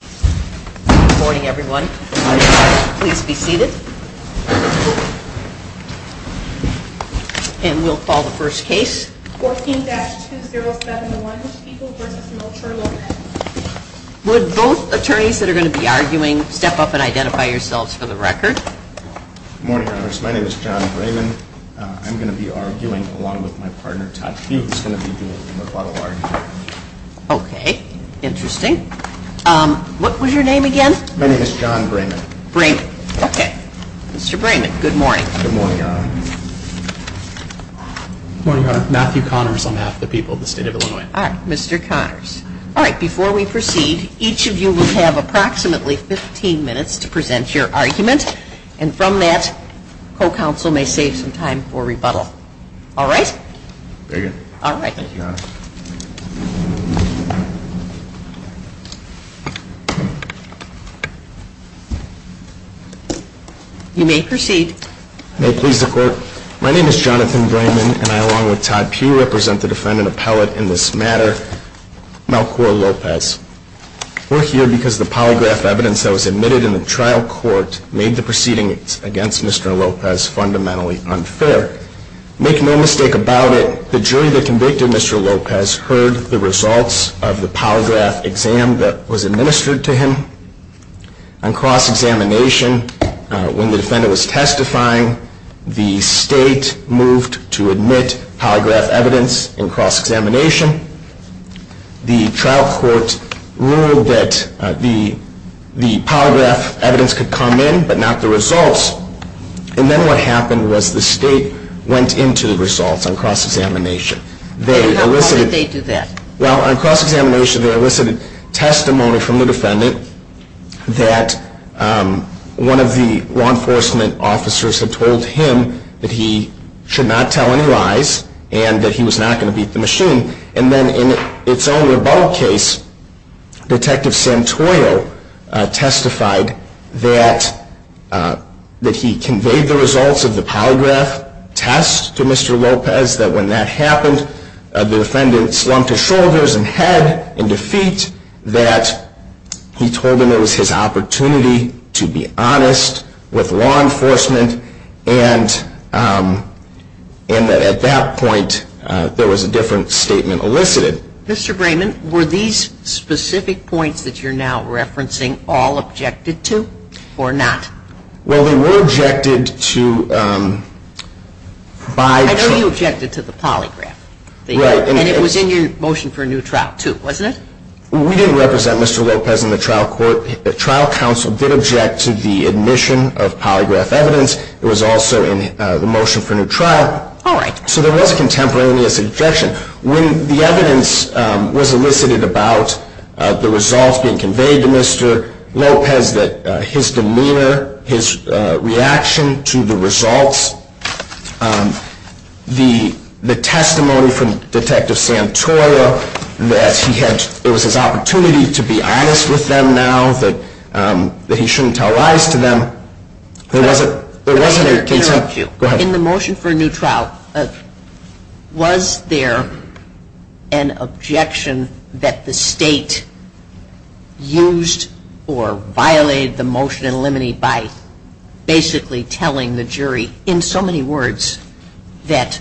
Good morning, everyone. Please be seated. And we'll call the first case, 14-2071, People vs. Militia Lawyer. Would both attorneys that are going to be arguing step up and identify yourselves for the record? Good morning, Congress. My name is John Braven. I'm going to be arguing along with my partner, Todd Hughes, who's going to be doing the rebuttal argument. Okay. Interesting. What was your name again? My name is John Braven. Braven. Okay. Mr. Braven, good morning. Good morning, Your Honor. Good morning, Your Honor. Matthew Connors on behalf of the people of the state of Illinois. All right. Mr. Connors. All right. Before we proceed, each of you will have approximately 15 minutes to present your argument. And from that, co-counsel may save some time for rebuttal. All right? Very good. All right. Thank you, Your Honor. You may proceed. May it please the Court. My name is Jonathan Braven, and I, along with Todd Pugh, represent the defendant appellate in this matter, Melchor Lopez. We're here because the polygraph evidence that was admitted in the trial court made the proceedings against Mr. Lopez fundamentally unfair. Make no mistake about it, the jury that convicted Mr. Lopez heard the results of the polygraph exam that was administered to him. On cross-examination, when the defendant was testifying, the state moved to admit polygraph evidence in cross-examination. The trial court ruled that the polygraph evidence could come in, but not the results. And then what happened was the state went into the results on cross-examination. How did they do that? Well, on cross-examination, they elicited testimony from the defendant that one of the law enforcement officers had told him that he should not tell any lies and that he was not going to beat the machine. And then in its own rebuttal case, Detective Santoyo testified that he conveyed the results of the polygraph test to Mr. Lopez, that when that happened, the defendant slumped his shoulders and head in defeat, that he told him it was his opportunity to be honest with law enforcement, and that at that point, there was a different statement elicited. Mr. Brayman, were these specific points that you're now referencing all objected to or not? Well, they were objected to by... I know you objected to the polygraph. Right. And it was in your motion for a new trial, too, wasn't it? We didn't represent Mr. Lopez in the trial court. The trial counsel did object to the admission of polygraph evidence. It was also in the motion for a new trial. All right. So there was a contemporaneous objection. When the evidence was elicited about the results being conveyed to Mr. Lopez, his demeanor, his reaction to the results, the testimony from Detective Santoyo that it was his opportunity to be honest with them now, that he shouldn't tell lies to them, there wasn't... In the motion for a new trial, was there an objection that the state used or violated the motion and eliminated by basically telling the jury in so many words that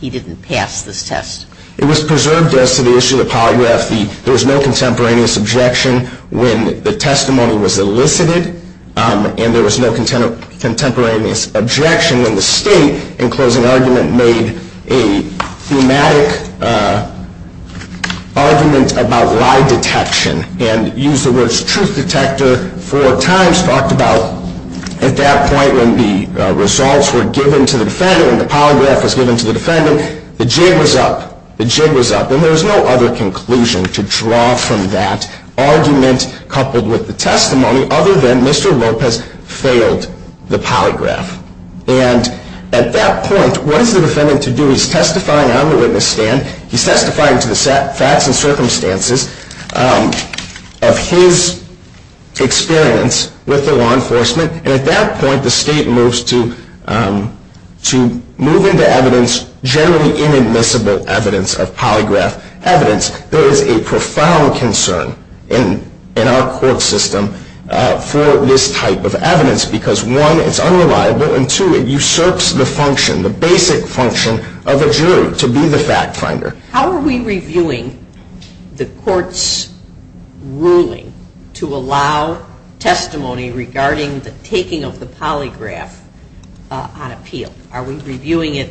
he didn't pass this test? It was preserved as to the issue of the polygraph. There was no contemporaneous objection. When the testimony was elicited and there was no contemporaneous objection, then the state, in closing argument, made a thematic argument about lie detection and used the words truth detector four times. And Mr. Lopez talked about at that point when the results were given to the defendant and the polygraph was given to the defendant, the jig was up. The jig was up. And there was no other conclusion to draw from that argument coupled with the testimony other than Mr. Lopez failed the polygraph. And at that point, what is the defendant to do? He's testifying on the witness stand. He's testifying to the facts and circumstances of his experience with the law enforcement. And at that point, the state moves to move into evidence, generally inadmissible evidence of polygraph evidence. There is a profound concern in our court system for this type of evidence because, one, it's unreliable and, two, it usurps the function, the basic function of a jury to be the fact finder. How are we reviewing the court's ruling to allow testimony regarding the taking of the polygraph on appeal? Are we reviewing it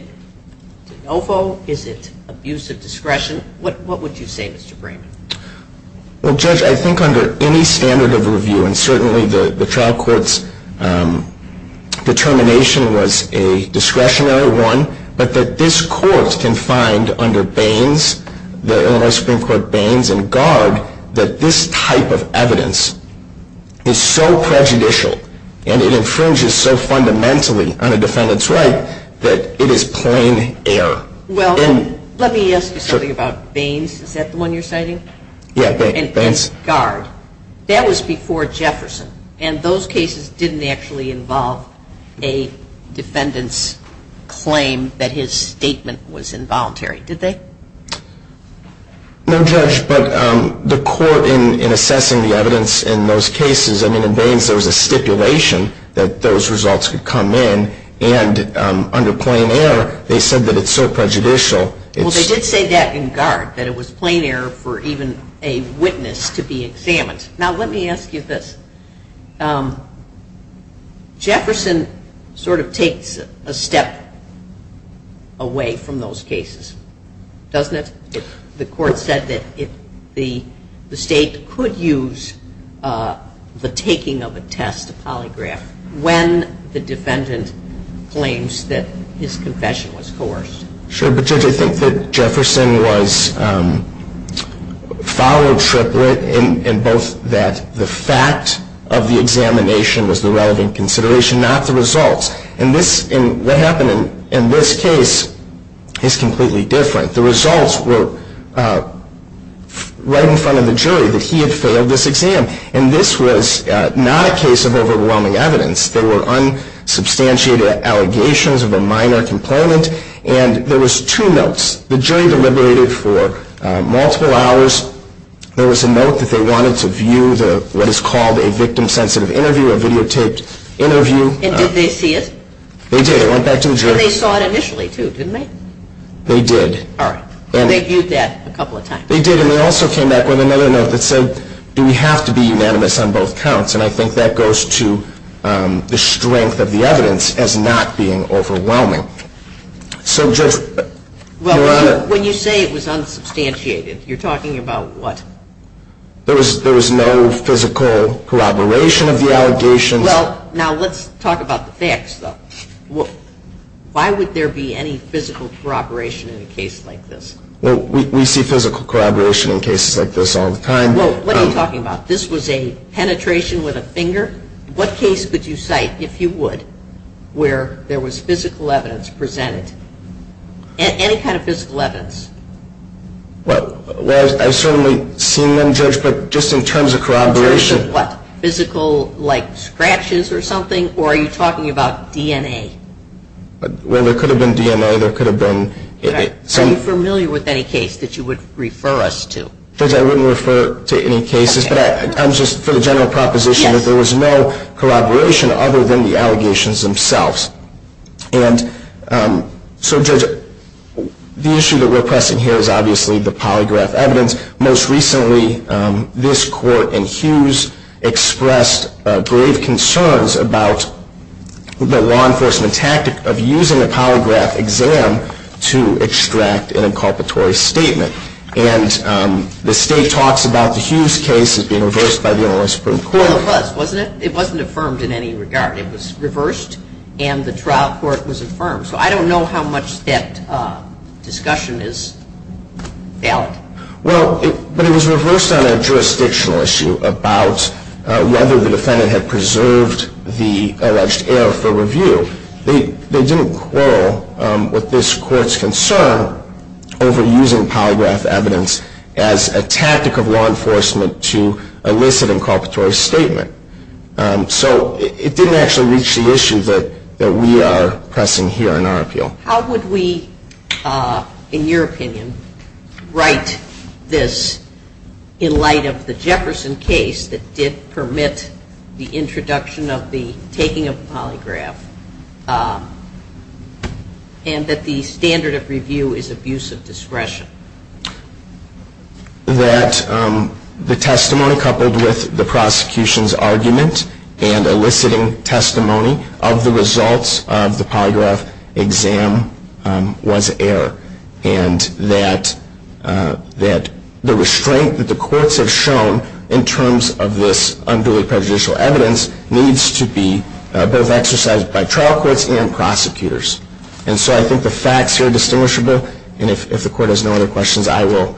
de novo? Is it abuse of discretion? What would you say, Mr. Brayman? Well, Judge, I think under any standard of review, and certainly the trial court's determination was a discretionary one, but that this court can find under Baines, the Illinois Supreme Court Baines and Garg, that this type of evidence is so prejudicial and it infringes so fundamentally on a defendant's right that it is plain error. Well, let me ask you something about Baines. Is that the one you're citing? Yeah, Baines. And Garg. That was before Jefferson. And those cases didn't actually involve a defendant's claim that his statement was involuntary, did they? No, Judge, but the court in assessing the evidence in those cases, I mean, in Baines, there was a stipulation that those results could come in, and under plain error, they said that it's so prejudicial. Well, they did say that in Garg, that it was plain error for even a witness to be examined. Now, let me ask you this. Jefferson sort of takes a step away from those cases, doesn't it? The court said that the State could use the taking of a test, a polygraph, when the defendant claims that his confession was coerced. Sure, but Judge, I think that Jefferson followed Triplett in both that the fact of the examination was the relevant consideration, not the results. And what happened in this case is completely different. The results were right in front of the jury that he had failed this exam, and this was not a case of overwhelming evidence. There were unsubstantiated allegations of a minor complainant, and there was two notes. The jury deliberated for multiple hours. There was a note that they wanted to view what is called a victim-sensitive interview, a videotaped interview. And did they see it? They did. It went back to the jury. And they saw it initially, too, didn't they? They did. All right. They viewed that a couple of times. They did, and they also came back with another note that said, do we have to be unanimous on both counts? And I think that goes to the strength of the evidence as not being overwhelming. So, Judge, Your Honor. Well, when you say it was unsubstantiated, you're talking about what? There was no physical corroboration of the allegations. Well, now let's talk about the facts, though. Why would there be any physical corroboration in a case like this? Well, we see physical corroboration in cases like this all the time. Well, what are you talking about? This was a penetration with a finger? What case could you cite, if you would, where there was physical evidence presented? Any kind of physical evidence? Well, I've certainly seen them, Judge, but just in terms of corroboration. In terms of what? Physical, like, scratches or something, or are you talking about DNA? Well, there could have been DNA. There could have been. Are you familiar with any case that you would refer us to? Judge, I wouldn't refer to any cases, but I'm just, for the general proposition, that there was no corroboration other than the allegations themselves. And so, Judge, the issue that we're pressing here is obviously the polygraph evidence. Most recently, this court in Hughes expressed grave concerns about the law enforcement tactic of using a polygraph exam to extract an inculpatory statement. And the state talks about the Hughes case as being reversed by the Illinois Supreme Court. Well, it was, wasn't it? It wasn't affirmed in any regard. It was reversed, and the trial court was affirmed. So I don't know how much that discussion is valid. Well, but it was reversed on a jurisdictional issue about whether the defendant had preserved the alleged error for review. They didn't quarrel with this court's concern over using polygraph evidence as a tactic of law enforcement to elicit an inculpatory statement. So it didn't actually reach the issue that we are pressing here in our appeal. How would we, in your opinion, write this in light of the Jefferson case that did permit the introduction of the taking of the polygraph and that the standard of review is abuse of discretion? That the testimony coupled with the prosecution's argument and eliciting testimony of the results of the polygraph exam was error. And that the restraint that the courts have shown in terms of this unduly prejudicial evidence needs to be both exercised by trial courts and prosecutors. And so I think the facts here are distinguishable. And if the court has no other questions, I will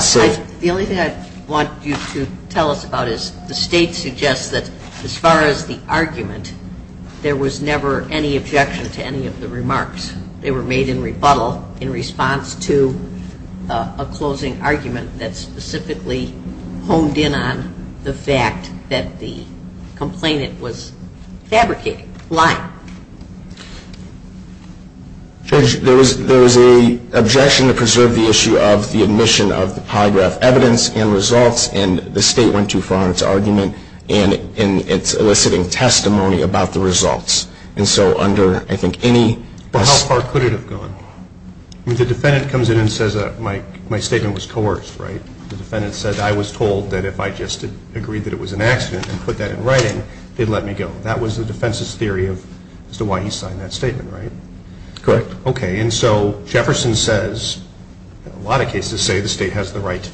say. Well, the only thing I want you to tell us about is the state suggests that as far as the argument, there was never any objection to any of the remarks. They were made in rebuttal in response to a closing argument that specifically honed in on the fact that the complainant was fabricating, lying. Judge, there was an objection to preserve the issue of the admission of the polygraph evidence and results and the state went too far on its argument and its eliciting testimony about the results. And so under, I think, any... Well, how far could it have gone? The defendant comes in and says my statement was coerced, right? The defendant said I was told that if I just agreed that it was an accident and put that in writing, they'd let me go. That was the defense's theory as to why he signed that statement, right? Correct. Okay. And so Jefferson says, in a lot of cases, say the state has the right to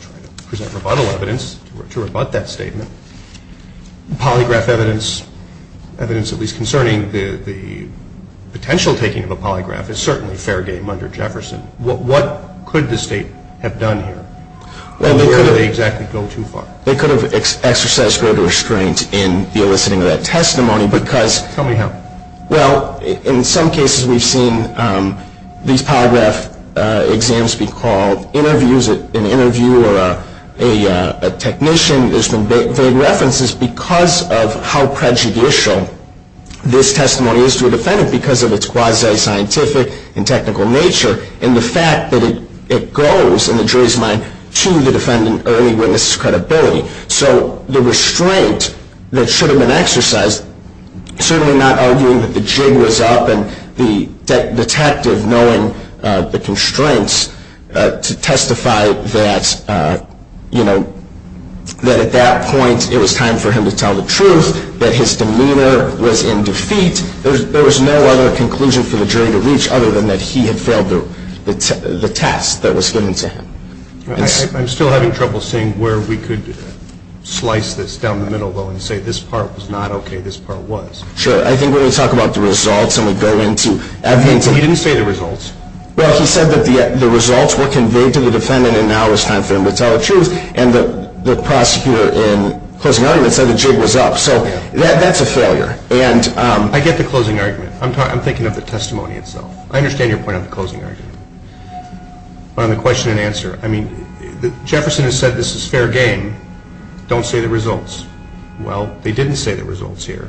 present rebuttal evidence to rebut that statement. The polygraph evidence, evidence at least concerning the potential taking of a polygraph, is certainly fair game under Jefferson. What could the state have done here? And where did they exactly go too far? Well, they could have exercised greater restraint in the eliciting of that testimony because... Tell me how. Well, in some cases we've seen these polygraph exams be called interviews, an interview or a technician has been made references because of how prejudicial this testimony is to a defendant because of its quasi-scientific and technical nature and the fact that it goes, in the jury's mind, to the defendant early witness's credibility. So the restraint that should have been exercised, certainly not arguing that the jig was up and the detective knowing the constraints to testify that, you know, that at that point it was time for him to tell the truth, that his demeanor was in defeat. There was no other conclusion for the jury to reach other than that he had failed the test that was given to him. I'm still having trouble seeing where we could slice this down the middle, though, and say this part was not okay, this part was. Sure. I think when we talk about the results and we go into evidence... He didn't say the results. Well, he said that the results were conveyed to the defendant and now it was time for him to tell the truth and the prosecutor in closing argument said the jig was up. So that's a failure. I get the closing argument. I'm thinking of the testimony itself. I understand your point on the closing argument. On the question and answer, I mean, Jefferson has said this is fair game. Don't say the results. Well, they didn't say the results here.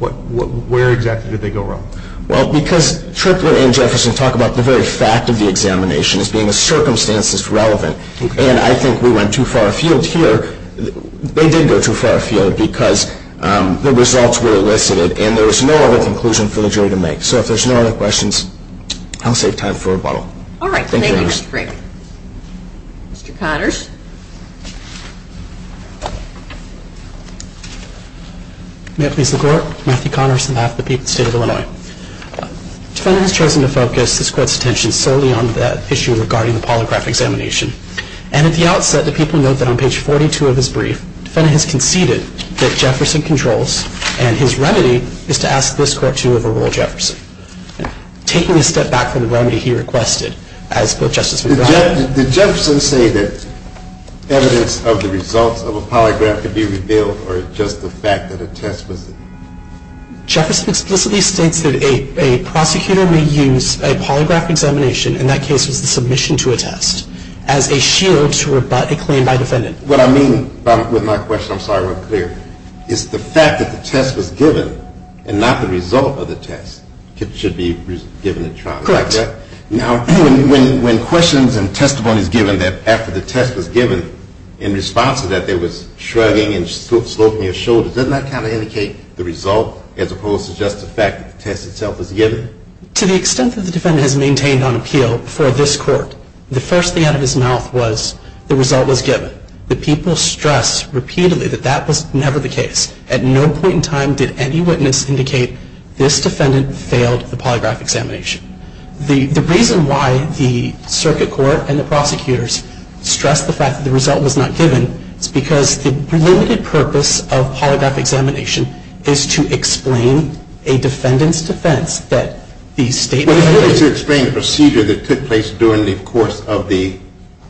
Where exactly did they go wrong? Well, because Triplett and Jefferson talk about the very fact of the examination as being a circumstances relevant, and I think we went too far afield here. They did go too far afield because the results were elicited and there was no other conclusion for the jury to make. So if there's no other questions, I'll save time for rebuttal. All right. Thank you, Mr. Frick. Mr. Connors. May it please the Court. Matthew Connors on behalf of the State of Illinois. Defendant has chosen to focus this Court's attention solely on the issue regarding the polygraph examination. And at the outset, the people note that on page 42 of his brief, defendant has conceded that Jefferson controls and his remedy is to ask this Court to overrule Jefferson. Taking a step back from the remedy he requested, as both Justice McBride... Did Jefferson say that evidence of the results of a polygraph could be revealed or just the fact that a test was... Jefferson explicitly states that a prosecutor may use a polygraph examination, and that case was the submission to a test, as a shield to rebut a claim by defendant. What I mean with my question, I'm sorry I wasn't clear, is the fact that the test was given and not the result of the test should be given a trial. Correct. Now, when questions and testimony is given that after the test was given, in response to that there was shrugging and sloping of shoulders, doesn't that kind of indicate the result as opposed to just the fact that the test itself was given? To the extent that the defendant has maintained on appeal for this Court, the first thing out of his mouth was the result was given. The people stress repeatedly that that was never the case. At no point in time did any witness indicate this defendant failed the polygraph examination. The reason why the circuit court and the prosecutors stress the fact that the result was not given is because the limited purpose of polygraph examination is to explain a defendant's defense that the statement was given. Well, it's really to explain the procedure that took place during the course of the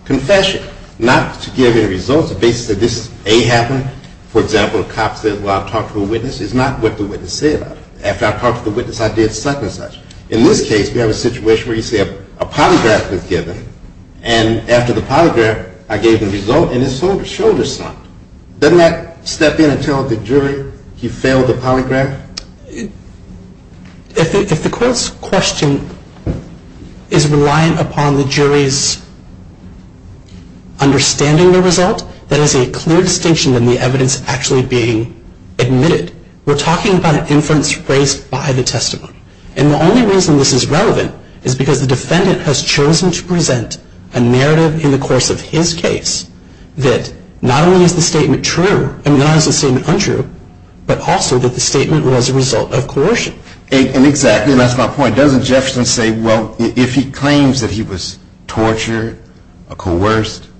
confession, not to give any results. The basis that this, A, happened, for example, a cop says, well, I talked to a witness, is not what the witness said. After I talked to the witness, I did such and such. In this case, we have a situation where you say a polygraph was given, and after the polygraph, I gave the result, and his shoulder is slumped. Doesn't that step in and tell the jury he failed the polygraph? If the Court's question is reliant upon the jury's understanding the result, that is a clear distinction than the evidence actually being admitted. We're talking about an inference raised by the testimony. And the only reason this is relevant is because the defendant has chosen to present a narrative in the course of his case that not only is the statement true, not only is the statement untrue, but also that the statement was a result of coercion. Exactly, and that's my point. Doesn't Jefferson say, well, if he claims that he was tortured or coerced,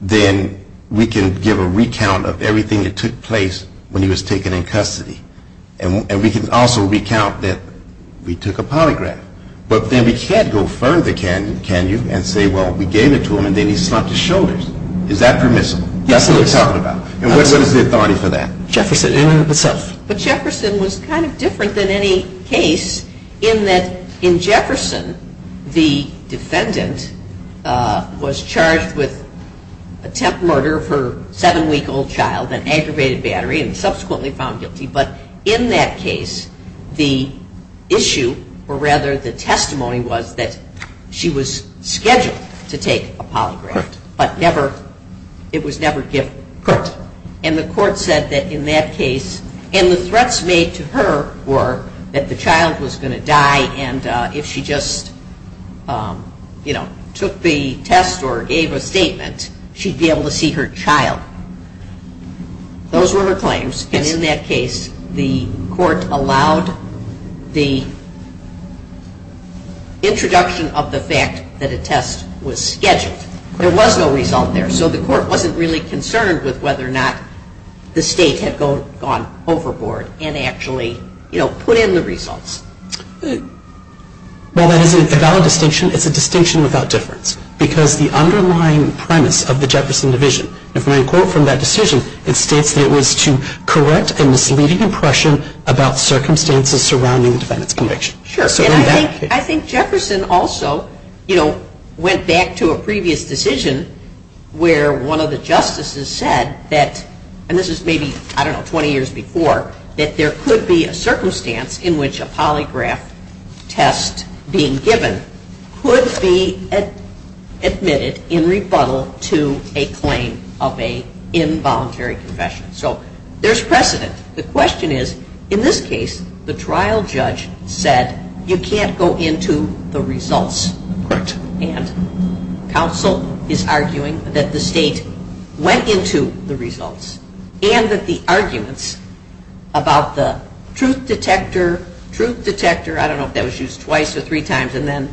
then we can give a recount of everything that took place when he was taken in custody. And we can also recount that we took a polygraph. But then we can't go further, can you, and say, well, we gave it to him, and then he slumped his shoulders. Is that permissible? Yes, it is. That's what we're talking about. And what is the authority for that? Jefferson in and of itself. But Jefferson was kind of different than any case in that in Jefferson, the defendant was charged with attempt murder of her 7-week-old child, an aggravated battery, and subsequently found guilty. But in that case, the issue, or rather the testimony, was that she was scheduled to take a polygraph. Correct. But it was never given. Correct. And the court said that in that case, and the threats made to her were that the child was going to die, and if she just took the test or gave a statement, she'd be able to see her child. Those were her claims, and in that case, the court allowed the introduction of the fact that a test was scheduled. There was no result there, so the court wasn't really concerned with whether or not the state had gone overboard and actually put in the results. Well, that is a valid distinction. It's a distinction without difference, because the underlying premise of the Jefferson division, if we quote from that decision, it states that it was to correct a misleading impression about circumstances surrounding the defendant's conviction. Sure. And I think Jefferson also, you know, went back to a previous decision where one of the justices said that, and this is maybe, I don't know, 20 years before, that there could be a circumstance in which a polygraph test being given could be admitted in rebuttal to a claim of a involuntary confession. So there's precedent. The question is, in this case, the trial judge said you can't go into the results. Correct. And counsel is arguing that the state went into the results and that the arguments about the truth detector, truth detector, I don't know if that was used twice or three times, and then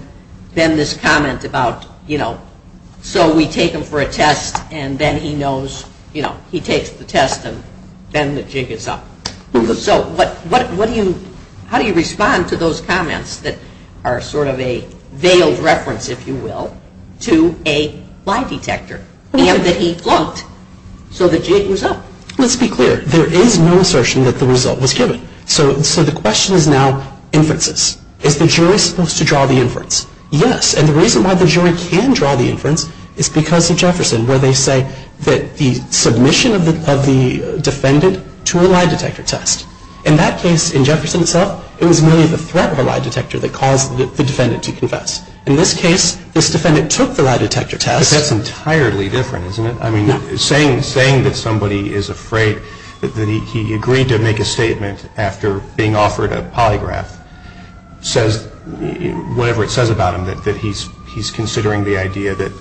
this comment about, you know, so we take him for a test and then he knows, you know, he takes the test and then the jig is up. So how do you respond to those comments that are sort of a veiled reference, if you will, to a lie detector, and that he flunked so the jig was up? Let's be clear. There is no assertion that the result was given. So the question is now inferences. Is the jury supposed to draw the inference? Yes. And the reason why the jury can draw the inference is because of Jefferson, where they say that the submission of the defendant to a lie detector test. In that case, in Jefferson itself, it was merely the threat of a lie detector that caused the defendant to confess. In this case, this defendant took the lie detector test. But that's entirely different, isn't it? I mean, saying that somebody is afraid, that he agreed to make a statement after being offered a polygraph, says whatever it says about him, that he's considering the idea that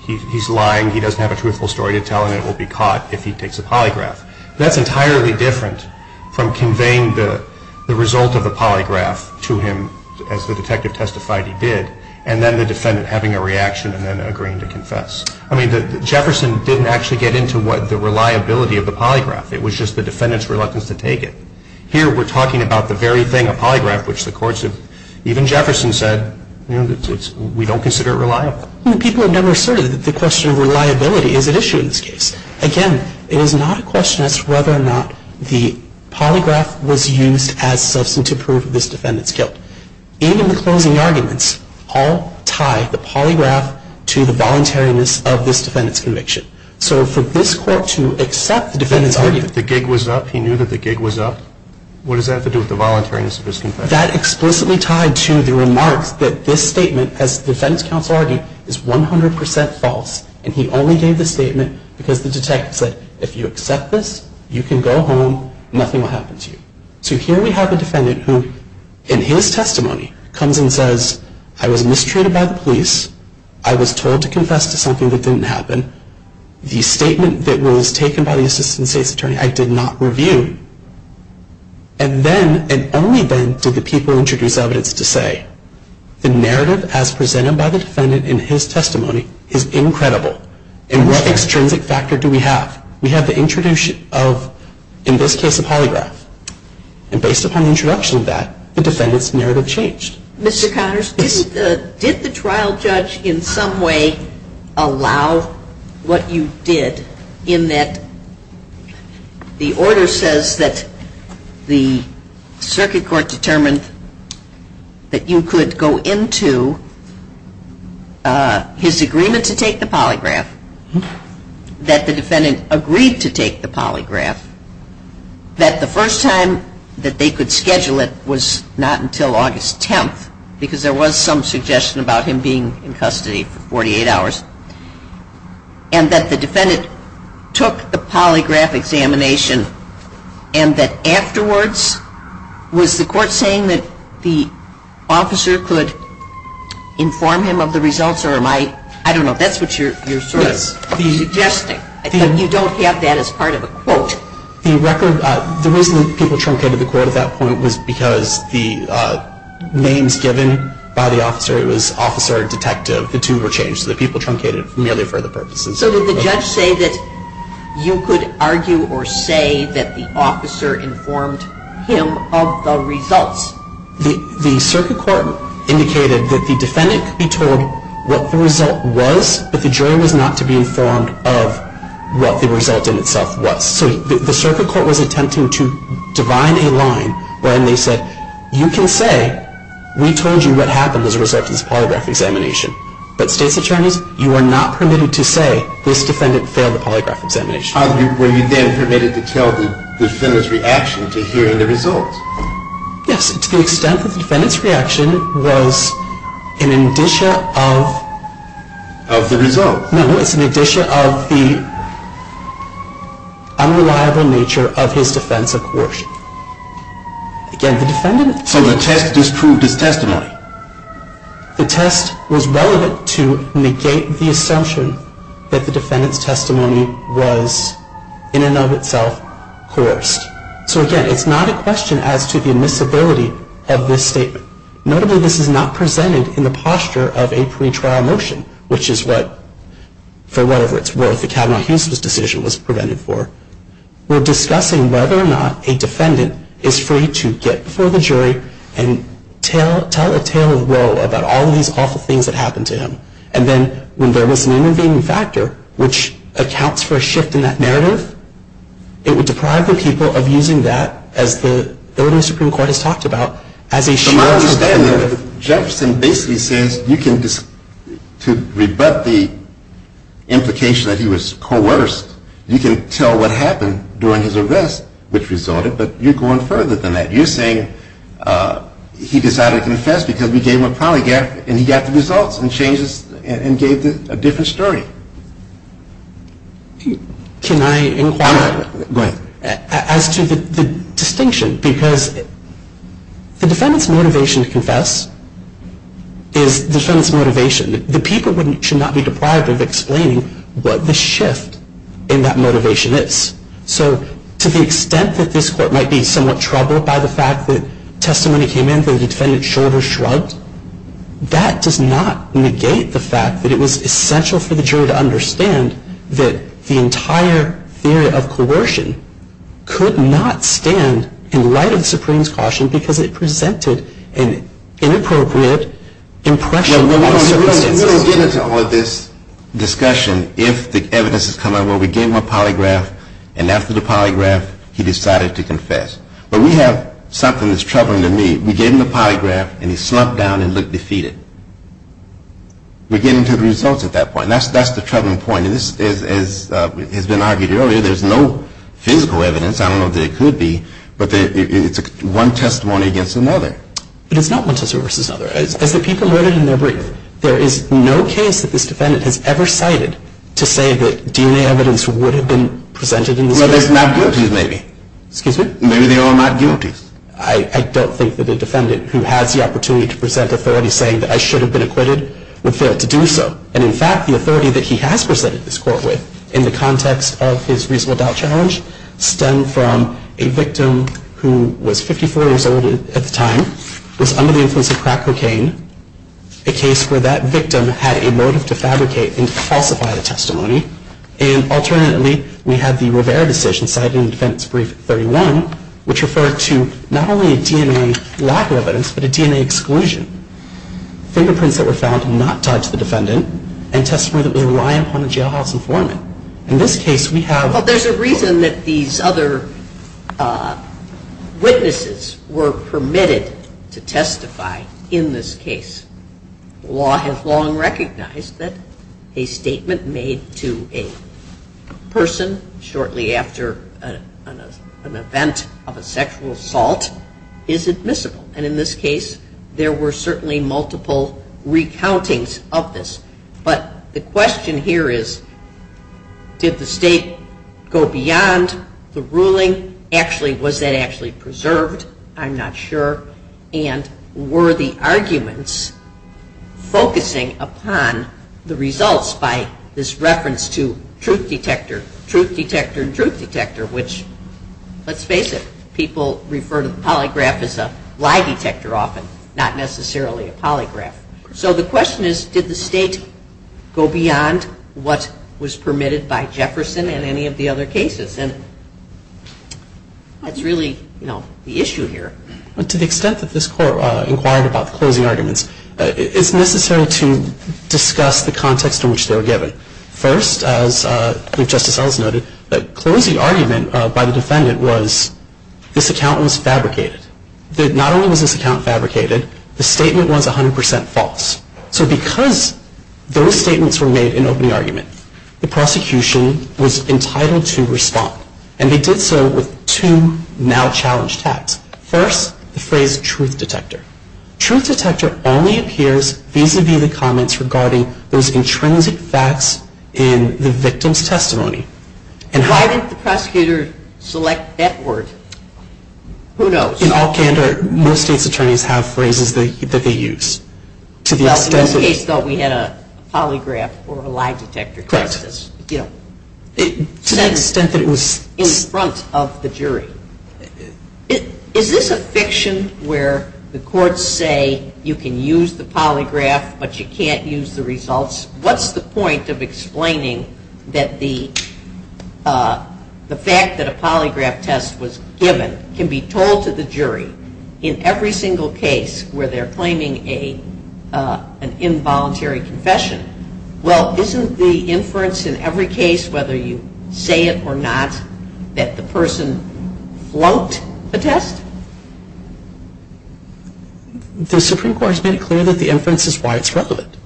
he's lying, he doesn't have a truthful story to tell, and it will be caught if he takes a polygraph. That's entirely different from conveying the result of the polygraph to him as the detective testified he did, and then the defendant having a reaction and then agreeing to confess. I mean, Jefferson didn't actually get into the reliability of the polygraph. It was just the defendant's reluctance to take it. Here, we're talking about the very thing, a polygraph, which the courts have, even Jefferson said, we don't consider it reliable. People have never asserted that the question of reliability is at issue in this case. Again, it is not a question as to whether or not the polygraph was used as substantive proof of this defendant's guilt. Even the closing arguments all tie the polygraph to the voluntariness of this defendant's conviction. So for this court to accept the defendant's argument... The gig was up. He knew that the gig was up. What does that have to do with the voluntariness of his confession? That explicitly tied to the remarks that this statement, as the defense counsel argued, is 100% false, and he only gave the statement because the detective said, if you accept this, you can go home, nothing will happen to you. So here we have a defendant who, in his testimony, comes and says, I was mistreated by the police. I was told to confess to something that didn't happen. The statement that was taken by the assistant state's attorney, I did not review. And then, and only then, did the people introduce evidence to say, the narrative as presented by the defendant in his testimony is incredible. And what extrinsic factor do we have? We have the introduction of, in this case, a polygraph. And based upon the introduction of that, the defendant's narrative changed. Mr. Connors, did the trial judge in some way allow what you did, in that the order says that the circuit court determined that you could go into his agreement to take the polygraph, that the defendant agreed to take the polygraph, that the first time that they could schedule it was not until August 10th, because there was some suggestion about him being in custody for 48 hours, and that the defendant took the polygraph examination, and that afterwards, was the court saying that the officer could inform him of the results, or am I, I don't know, that's what you're sort of suggesting. I think you don't have that as part of a quote. The record, the reason people truncated the quote at that point was because the names given by the officer, it was officer, detective, the two were changed. So the people truncated it merely for the purposes. So did the judge say that you could argue or say that the officer informed him of the results? The circuit court indicated that the defendant could be told what the result was, but the jury was not to be informed of what the result in itself was. So the circuit court was attempting to divine a line where they said, you can say we told you what happened as a result of this polygraph examination, but state's attorneys, you are not permitted to say this defendant failed the polygraph examination. Were you then permitted to tell the defendant's reaction to hearing the results? Yes, to the extent that the defendant's reaction was an addition of the result. No, it's an addition of the unreliable nature of his defense of coercion. So the test disproved his testimony? The test was relevant to negate the assumption that the defendant's testimony was in and of itself coerced. So again, it's not a question as to the admissibility of this statement. Notably, this is not presented in the posture of a pretrial motion, which is what, for whatever it's worth, the Kavanaugh-Huston decision was prevented for. We're discussing whether or not a defendant is free to get before the jury and tell a tale of woe about all of these awful things that happened to him. And then when there was an intervening factor, which accounts for a shift in that narrative, it would deprive the people of using that, as the Supreme Court has talked about, as a shift in narrative. From my understanding, Jefferson basically says you can, to rebut the implication that he was coerced, you can tell what happened during his arrest, which resulted, but you're going further than that. You're saying he decided to confess because we gave him a polygraph, and he got the results and gave a different story. Can I inquire as to the distinction? Because the defendant's motivation to confess is the defendant's motivation. The people should not be deprived of explaining what the shift in that motivation is. So to the extent that this Court might be somewhat troubled by the fact that testimony came in that the defendant's shoulders shrugged, that does not negate the fact that it was essential for the jury to understand that the entire theory of coercion could not stand in light of the Supreme's caution because it presented an inappropriate impression of circumstances. We'll get into all of this discussion if the evidence has come out where we gave him a polygraph, and after the polygraph, he decided to confess. But we have something that's troubling to me. We gave him the polygraph, and he slumped down and looked defeated. We're getting to the results at that point. That's the troubling point. As has been argued earlier, there's no physical evidence. I don't know that there could be, but it's one testimony against another. But it's not one testimony versus another. As the people noted in their brief, there is no case that this defendant has ever cited to say that DNA evidence would have been presented in this way. Well, there's not guilties maybe. Excuse me? Maybe they are not guilties. I don't think that a defendant who has the opportunity to present authority saying that I should have been acquitted would fail to do so. And in fact, the authority that he has presented this court with in the context of his reasonable doubt challenge stemmed from a victim who was 54 years old at the time, was under the influence of crack cocaine, a case where that victim had a motive to fabricate and falsify the testimony. And alternately, we have the Rivera decision cited in the defense brief 31, which referred to not only a DNA lack of evidence, but a DNA exclusion. Fingerprints that were found not tied to the defendant and testimony that was reliant upon a jailhouse informant. In this case, we have... Well, there's a reason that these other witnesses were permitted to testify in this case. Law has long recognized that a statement made to a person shortly after an event of a sexual assault is admissible. And in this case, there were certainly multiple recountings of this. But the question here is, did the state go beyond the ruling? Actually, was that actually preserved? I'm not sure. And were the arguments focusing upon the results by this reference to truth detector, truth detector, truth detector, which, let's face it, people refer to the polygraph as a lie detector often, not necessarily a polygraph. So the question is, did the state go beyond what was permitted by Jefferson in any of the other cases? And that's really the issue here. To the extent that this Court inquired about the closing arguments, it's necessary to discuss the context in which they were given. First, as Justice Ellis noted, the closing argument by the defendant was, this account was fabricated. Not only was this account fabricated, the statement was 100% false. So because those statements were made in opening argument, the prosecution was entitled to respond. And they did so with two now-challenged facts. First, the phrase truth detector. Truth detector only appears vis-a-vis the comments regarding those intrinsic facts in the victim's testimony. Why didn't the prosecutor select that word? Who knows? In all candor, most state's attorneys have phrases that they use. In this case, though, we had a polygraph or a lie detector. Correct. To the extent that it was in front of the jury. Is this a fiction where the courts say you can use the polygraph, but you can't use the results? What's the point of explaining that the fact that a polygraph test was given can be told to the jury in every single case where they're claiming an involuntary confession? Well, isn't the inference in every case, whether you say it or not, that the person flunked the test? The Supreme Court has made it clear that the inference is why it's relevant.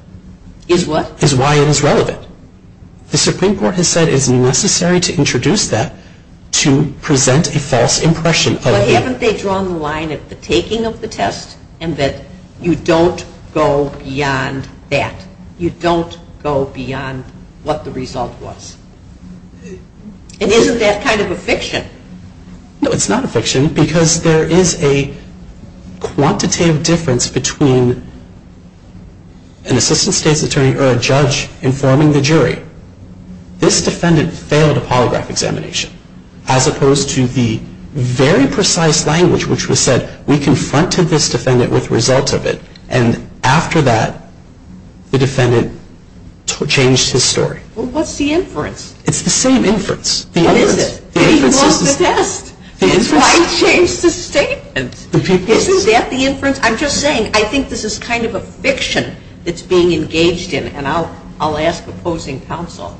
Is what? Is why it is relevant. The Supreme Court has said it is necessary to introduce that to present a false impression of a victim. But haven't they drawn the line at the taking of the test and that you don't go beyond that? You don't go beyond what the result was? And isn't that kind of a fiction? No, it's not a fiction because there is a quantitative difference between an assistant state's attorney or a judge informing the jury, this defendant failed a polygraph examination, as opposed to the very precise language which was said, we confronted this defendant with results of it. And after that, the defendant changed his story. Well, what's the inference? It's the same inference. What is it? He lost the test. That's why he changed his statement. Isn't that the inference? I'm just saying I think this is kind of a fiction that's being engaged in, and I'll ask opposing counsel.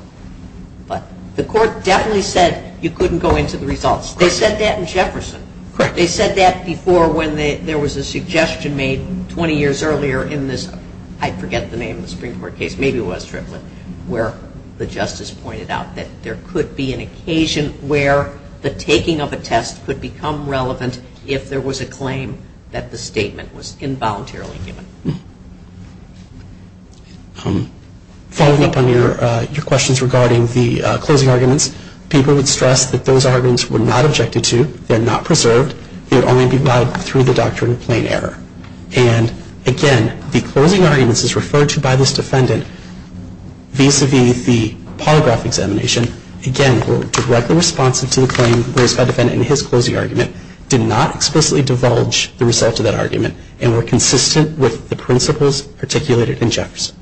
But the court definitely said you couldn't go into the results. They said that in Jefferson. Correct. They said that before when there was a suggestion made 20 years earlier in this, I forget the name of the Supreme Court case, maybe it was Triplett, where the justice pointed out that there could be an occasion where the taking of a test could become relevant if there was a claim that the statement was involuntarily given. Following up on your questions regarding the closing arguments, people would stress that those arguments were not objected to, they're not preserved. They would only be vied through the doctrine of plain error. And, again, the closing arguments as referred to by this defendant vis-à-vis the polygraph examination, again, were directly responsive to the claim raised by the defendant in his closing argument, did not explicitly divulge the result of that argument, and were consistent with the principles articulated in Jefferson.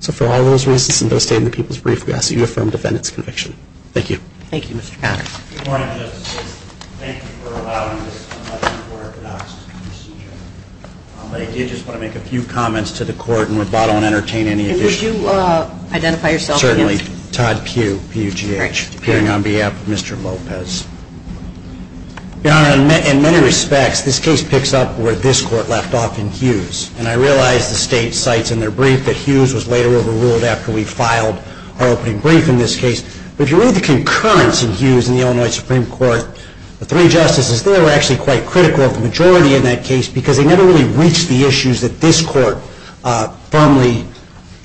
So for all those reasons and those stated in the people's brief, we ask that you affirm the defendant's conviction. Thank you. Thank you, Mr. Conner. Good morning, Justices. Thank you for allowing this much more orthodox procedure. I did just want to make a few comments to the Court and would bother and entertain any additional questions. And would you identify yourself again? Certainly. Todd Pugh, P-U-G-H, appearing on behalf of Mr. Lopez. Your Honor, in many respects, this case picks up where this Court left off in Hughes. And I realize the State cites in their brief that Hughes was later overruled after we filed our opening brief in this case. But if you read the concurrence in Hughes in the Illinois Supreme Court, the three Justices there were actually quite critical of the majority in that case because they never really reached the issues that this Court firmly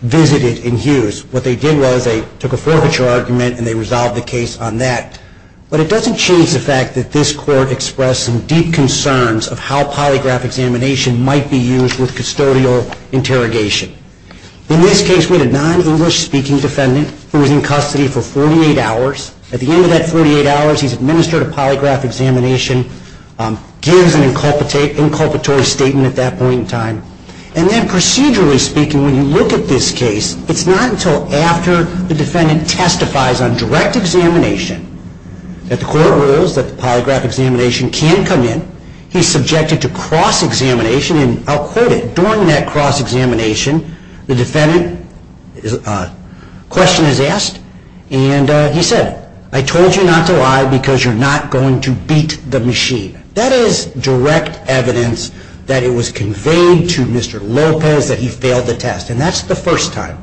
visited in Hughes. What they did was they took a forfeiture argument and they resolved the case on that. But it doesn't change the fact that this Court expressed some deep concerns of how polygraph examination might be used with custodial interrogation. In this case, we had a non-English speaking defendant who was in custody for 48 hours. At the end of that 48 hours, he's administered a polygraph examination, gives an inculpatory statement at that point in time. And then procedurally speaking, when you look at this case, it's not until after the defendant testifies on direct examination that the Court rules that the polygraph examination can come in. He's subjected to cross-examination, and I'll quote it, During that cross-examination, the defendant's question is asked, and he said, I told you not to lie because you're not going to beat the machine. That is direct evidence that it was conveyed to Mr. Lopez that he failed the test. And that's the first time.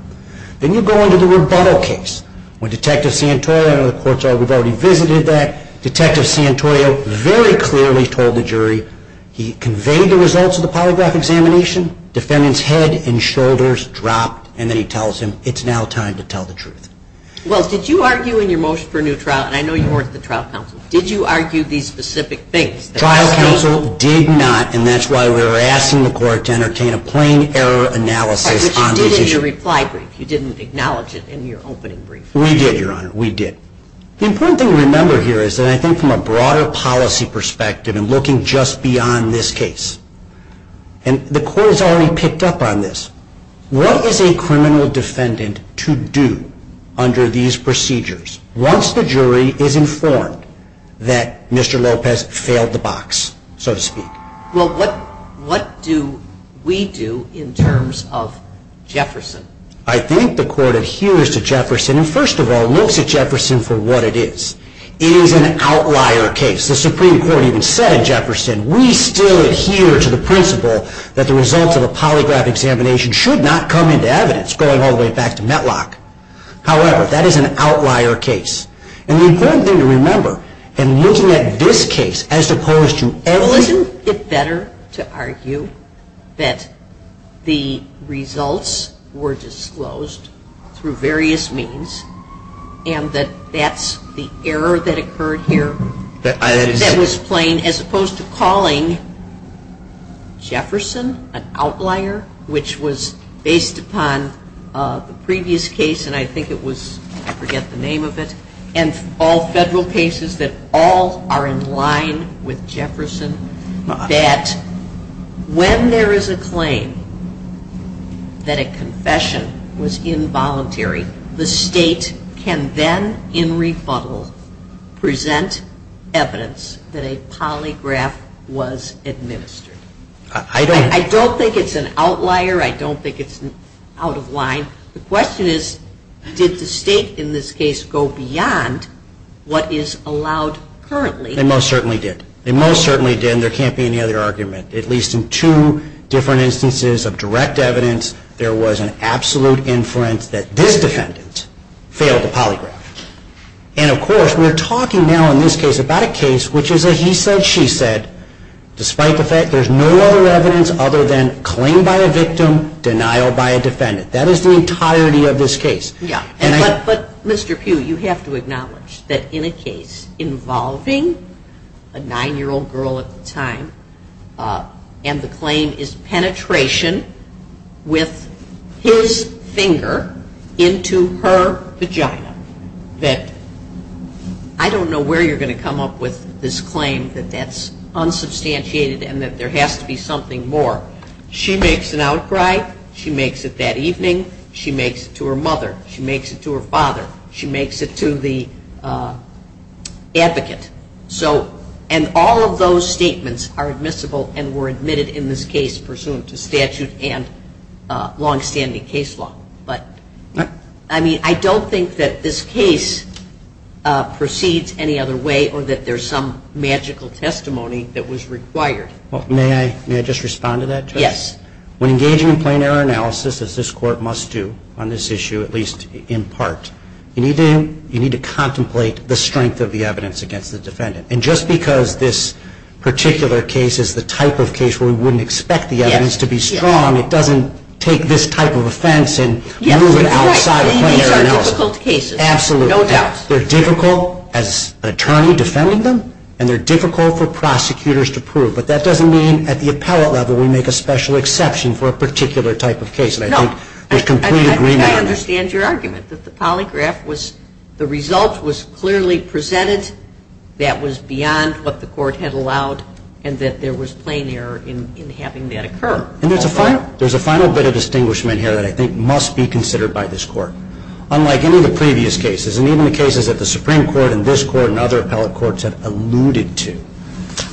Then you go into the rebuttal case. When Detective Santoro, I know the courts have already visited that, Detective Santoro very clearly told the jury he conveyed the results of the polygraph examination, defendant's head and shoulders dropped, and then he tells them it's now time to tell the truth. Wells, did you argue in your motion for a new trial, and I know you worked at the Trial Council, did you argue these specific things? The Trial Council did not, and that's why we were asking the Court to entertain a plain error analysis on this issue. But you did in your reply brief. You didn't acknowledge it in your opening brief. We did, Your Honor. We did. The important thing to remember here is that I think from a broader policy perspective and looking just beyond this case, and the Court has already picked up on this, what is a criminal defendant to do under these procedures once the jury is informed that Mr. Lopez failed the box, so to speak? Well, what do we do in terms of Jefferson? I think the Court adheres to Jefferson, and first of all looks at Jefferson for what it is. It is an outlier case. As the Supreme Court even said in Jefferson, we still adhere to the principle that the results of a polygraph examination should not come into evidence going all the way back to METLOC. However, that is an outlier case. And the important thing to remember in looking at this case as opposed to every… Well, isn't it better to argue that the results were disclosed through various means and that that's the error that occurred here? That was plain, as opposed to calling Jefferson an outlier, which was based upon the previous case, and I think it was, I forget the name of it, and all Federal cases that all are in line with Jefferson, that when there is a claim that a confession was involuntary, the State can then, in rebuttal, present evidence that a polygraph was administered. I don't think it's an outlier. I don't think it's out of line. The question is, did the State in this case go beyond what is allowed currently? They most certainly did. They most certainly did, and there can't be any other argument. At least in two different instances of direct evidence, there was an absolute inference that this defendant failed the polygraph. And, of course, we're talking now in this case about a case which is a he said, she said, despite the fact there's no other evidence other than claim by a victim, denial by a defendant. That is the entirety of this case. But, Mr. Pugh, you have to acknowledge that in a case involving a nine-year-old girl at the time and the claim is penetration with his finger into her vagina. I don't know where you're going to come up with this claim that that's unsubstantiated and that there has to be something more. She makes an outcry. She makes it that evening. She makes it to her mother. She makes it to the advocate. And all of those statements are admissible and were admitted in this case pursuant to statute and longstanding case law. But, I mean, I don't think that this case proceeds any other way or that there's some magical testimony that was required. May I just respond to that, Judge? Yes. When engaging in plain error analysis, as this Court must do on this issue, at least in part, you need to contemplate the strength of the evidence against the defendant. And just because this particular case is the type of case where we wouldn't expect the evidence to be strong, it doesn't take this type of offense and move it outside of plain error analysis. These are difficult cases. Absolutely. No doubt. They're difficult as an attorney defending them and they're difficult for prosecutors to prove. But that doesn't mean at the appellate level we make a special exception for a particular type of case. And I think there's complete agreement on that. And I understand your argument that the polygraph was, the result was clearly presented that was beyond what the Court had allowed and that there was plain error in having that occur. And there's a final bit of distinguishment here that I think must be considered by this Court. Unlike any of the previous cases, and even the cases that the Supreme Court and this Court and other appellate courts have alluded to,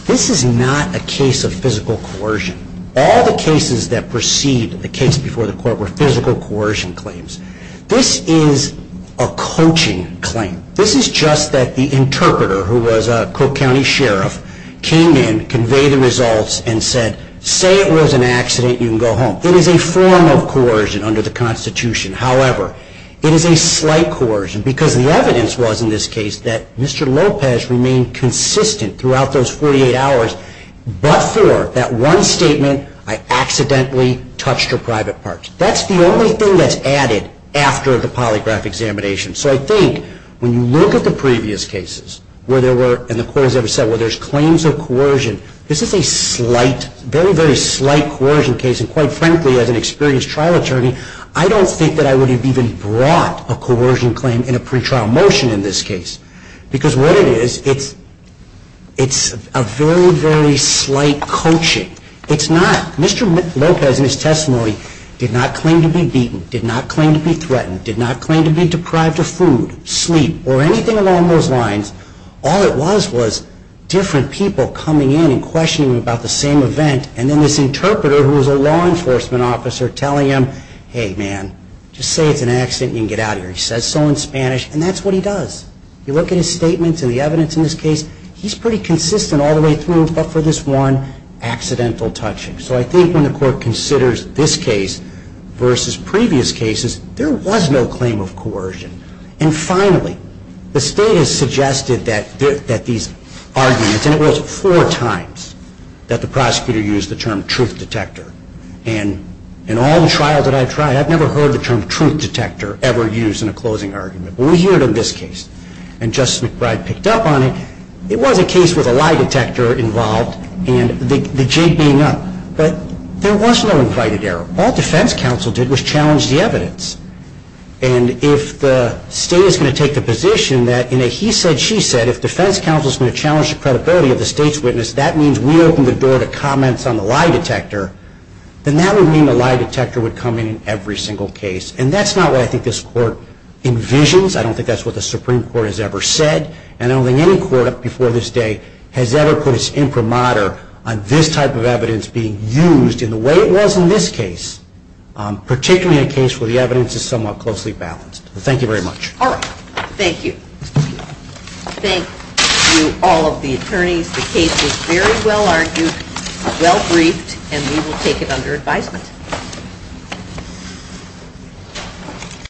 this is not a case of physical coercion. All the cases that precede the case before the Court were physical coercion claims. This is a coaching claim. This is just that the interpreter who was a Cook County sheriff came in, conveyed the results and said, say it was an accident, you can go home. It is a form of coercion under the Constitution. However, it is a slight coercion because the evidence was in this case that Mr. Lopez remained consistent throughout those 48 hours but for that one statement, I accidentally touched her private parts. That's the only thing that's added after the polygraph examination. So I think when you look at the previous cases where there were, and the Court has ever said, where there's claims of coercion, this is a slight, very, very slight coercion case. And quite frankly, as an experienced trial attorney, I don't think that I would have even brought a coercion claim in a pretrial motion in this case. Because what it is, it's a very, very slight coaching. It's not. Mr. Lopez in his testimony did not claim to be beaten, did not claim to be threatened, did not claim to be deprived of food, sleep, or anything along those lines. All it was was different people coming in and questioning him about the same event and then this interpreter who was a law enforcement officer telling him, hey man, just say it's an accident and you can get out of here. He says so in Spanish and that's what he does. You look at his statements and the evidence in this case, he's pretty consistent all the way through but for this one accidental touching. So I think when the Court considers this case versus previous cases, there was no claim of coercion. And finally, the State has suggested that these arguments, and it was four times that the prosecutor used the term truth detector. And in all the trials that I've tried, I've never heard the term truth detector ever used in a closing argument. But we hear it in this case. And Justice McBride picked up on it. It was a case with a lie detector involved and the jig being up. But there was no invited error. All defense counsel did was challenge the evidence. And if the State is going to take the position that in a he said, she said, if defense counsel is going to challenge the credibility of the State's witness, that means we open the door to comments on the lie detector, then that would mean the lie detector would come in in every single case. And that's not what I think this Court envisions. I don't think that's what the Supreme Court has ever said. And I don't think any Court before this day has ever put its imprimatur on this type of evidence being used in the way it was in this case, particularly in a case where the evidence is somewhat closely balanced. Thank you very much. All right. Thank you. Thank you, all of the attorneys. The case was very well argued, well briefed, and we will take it under advisement.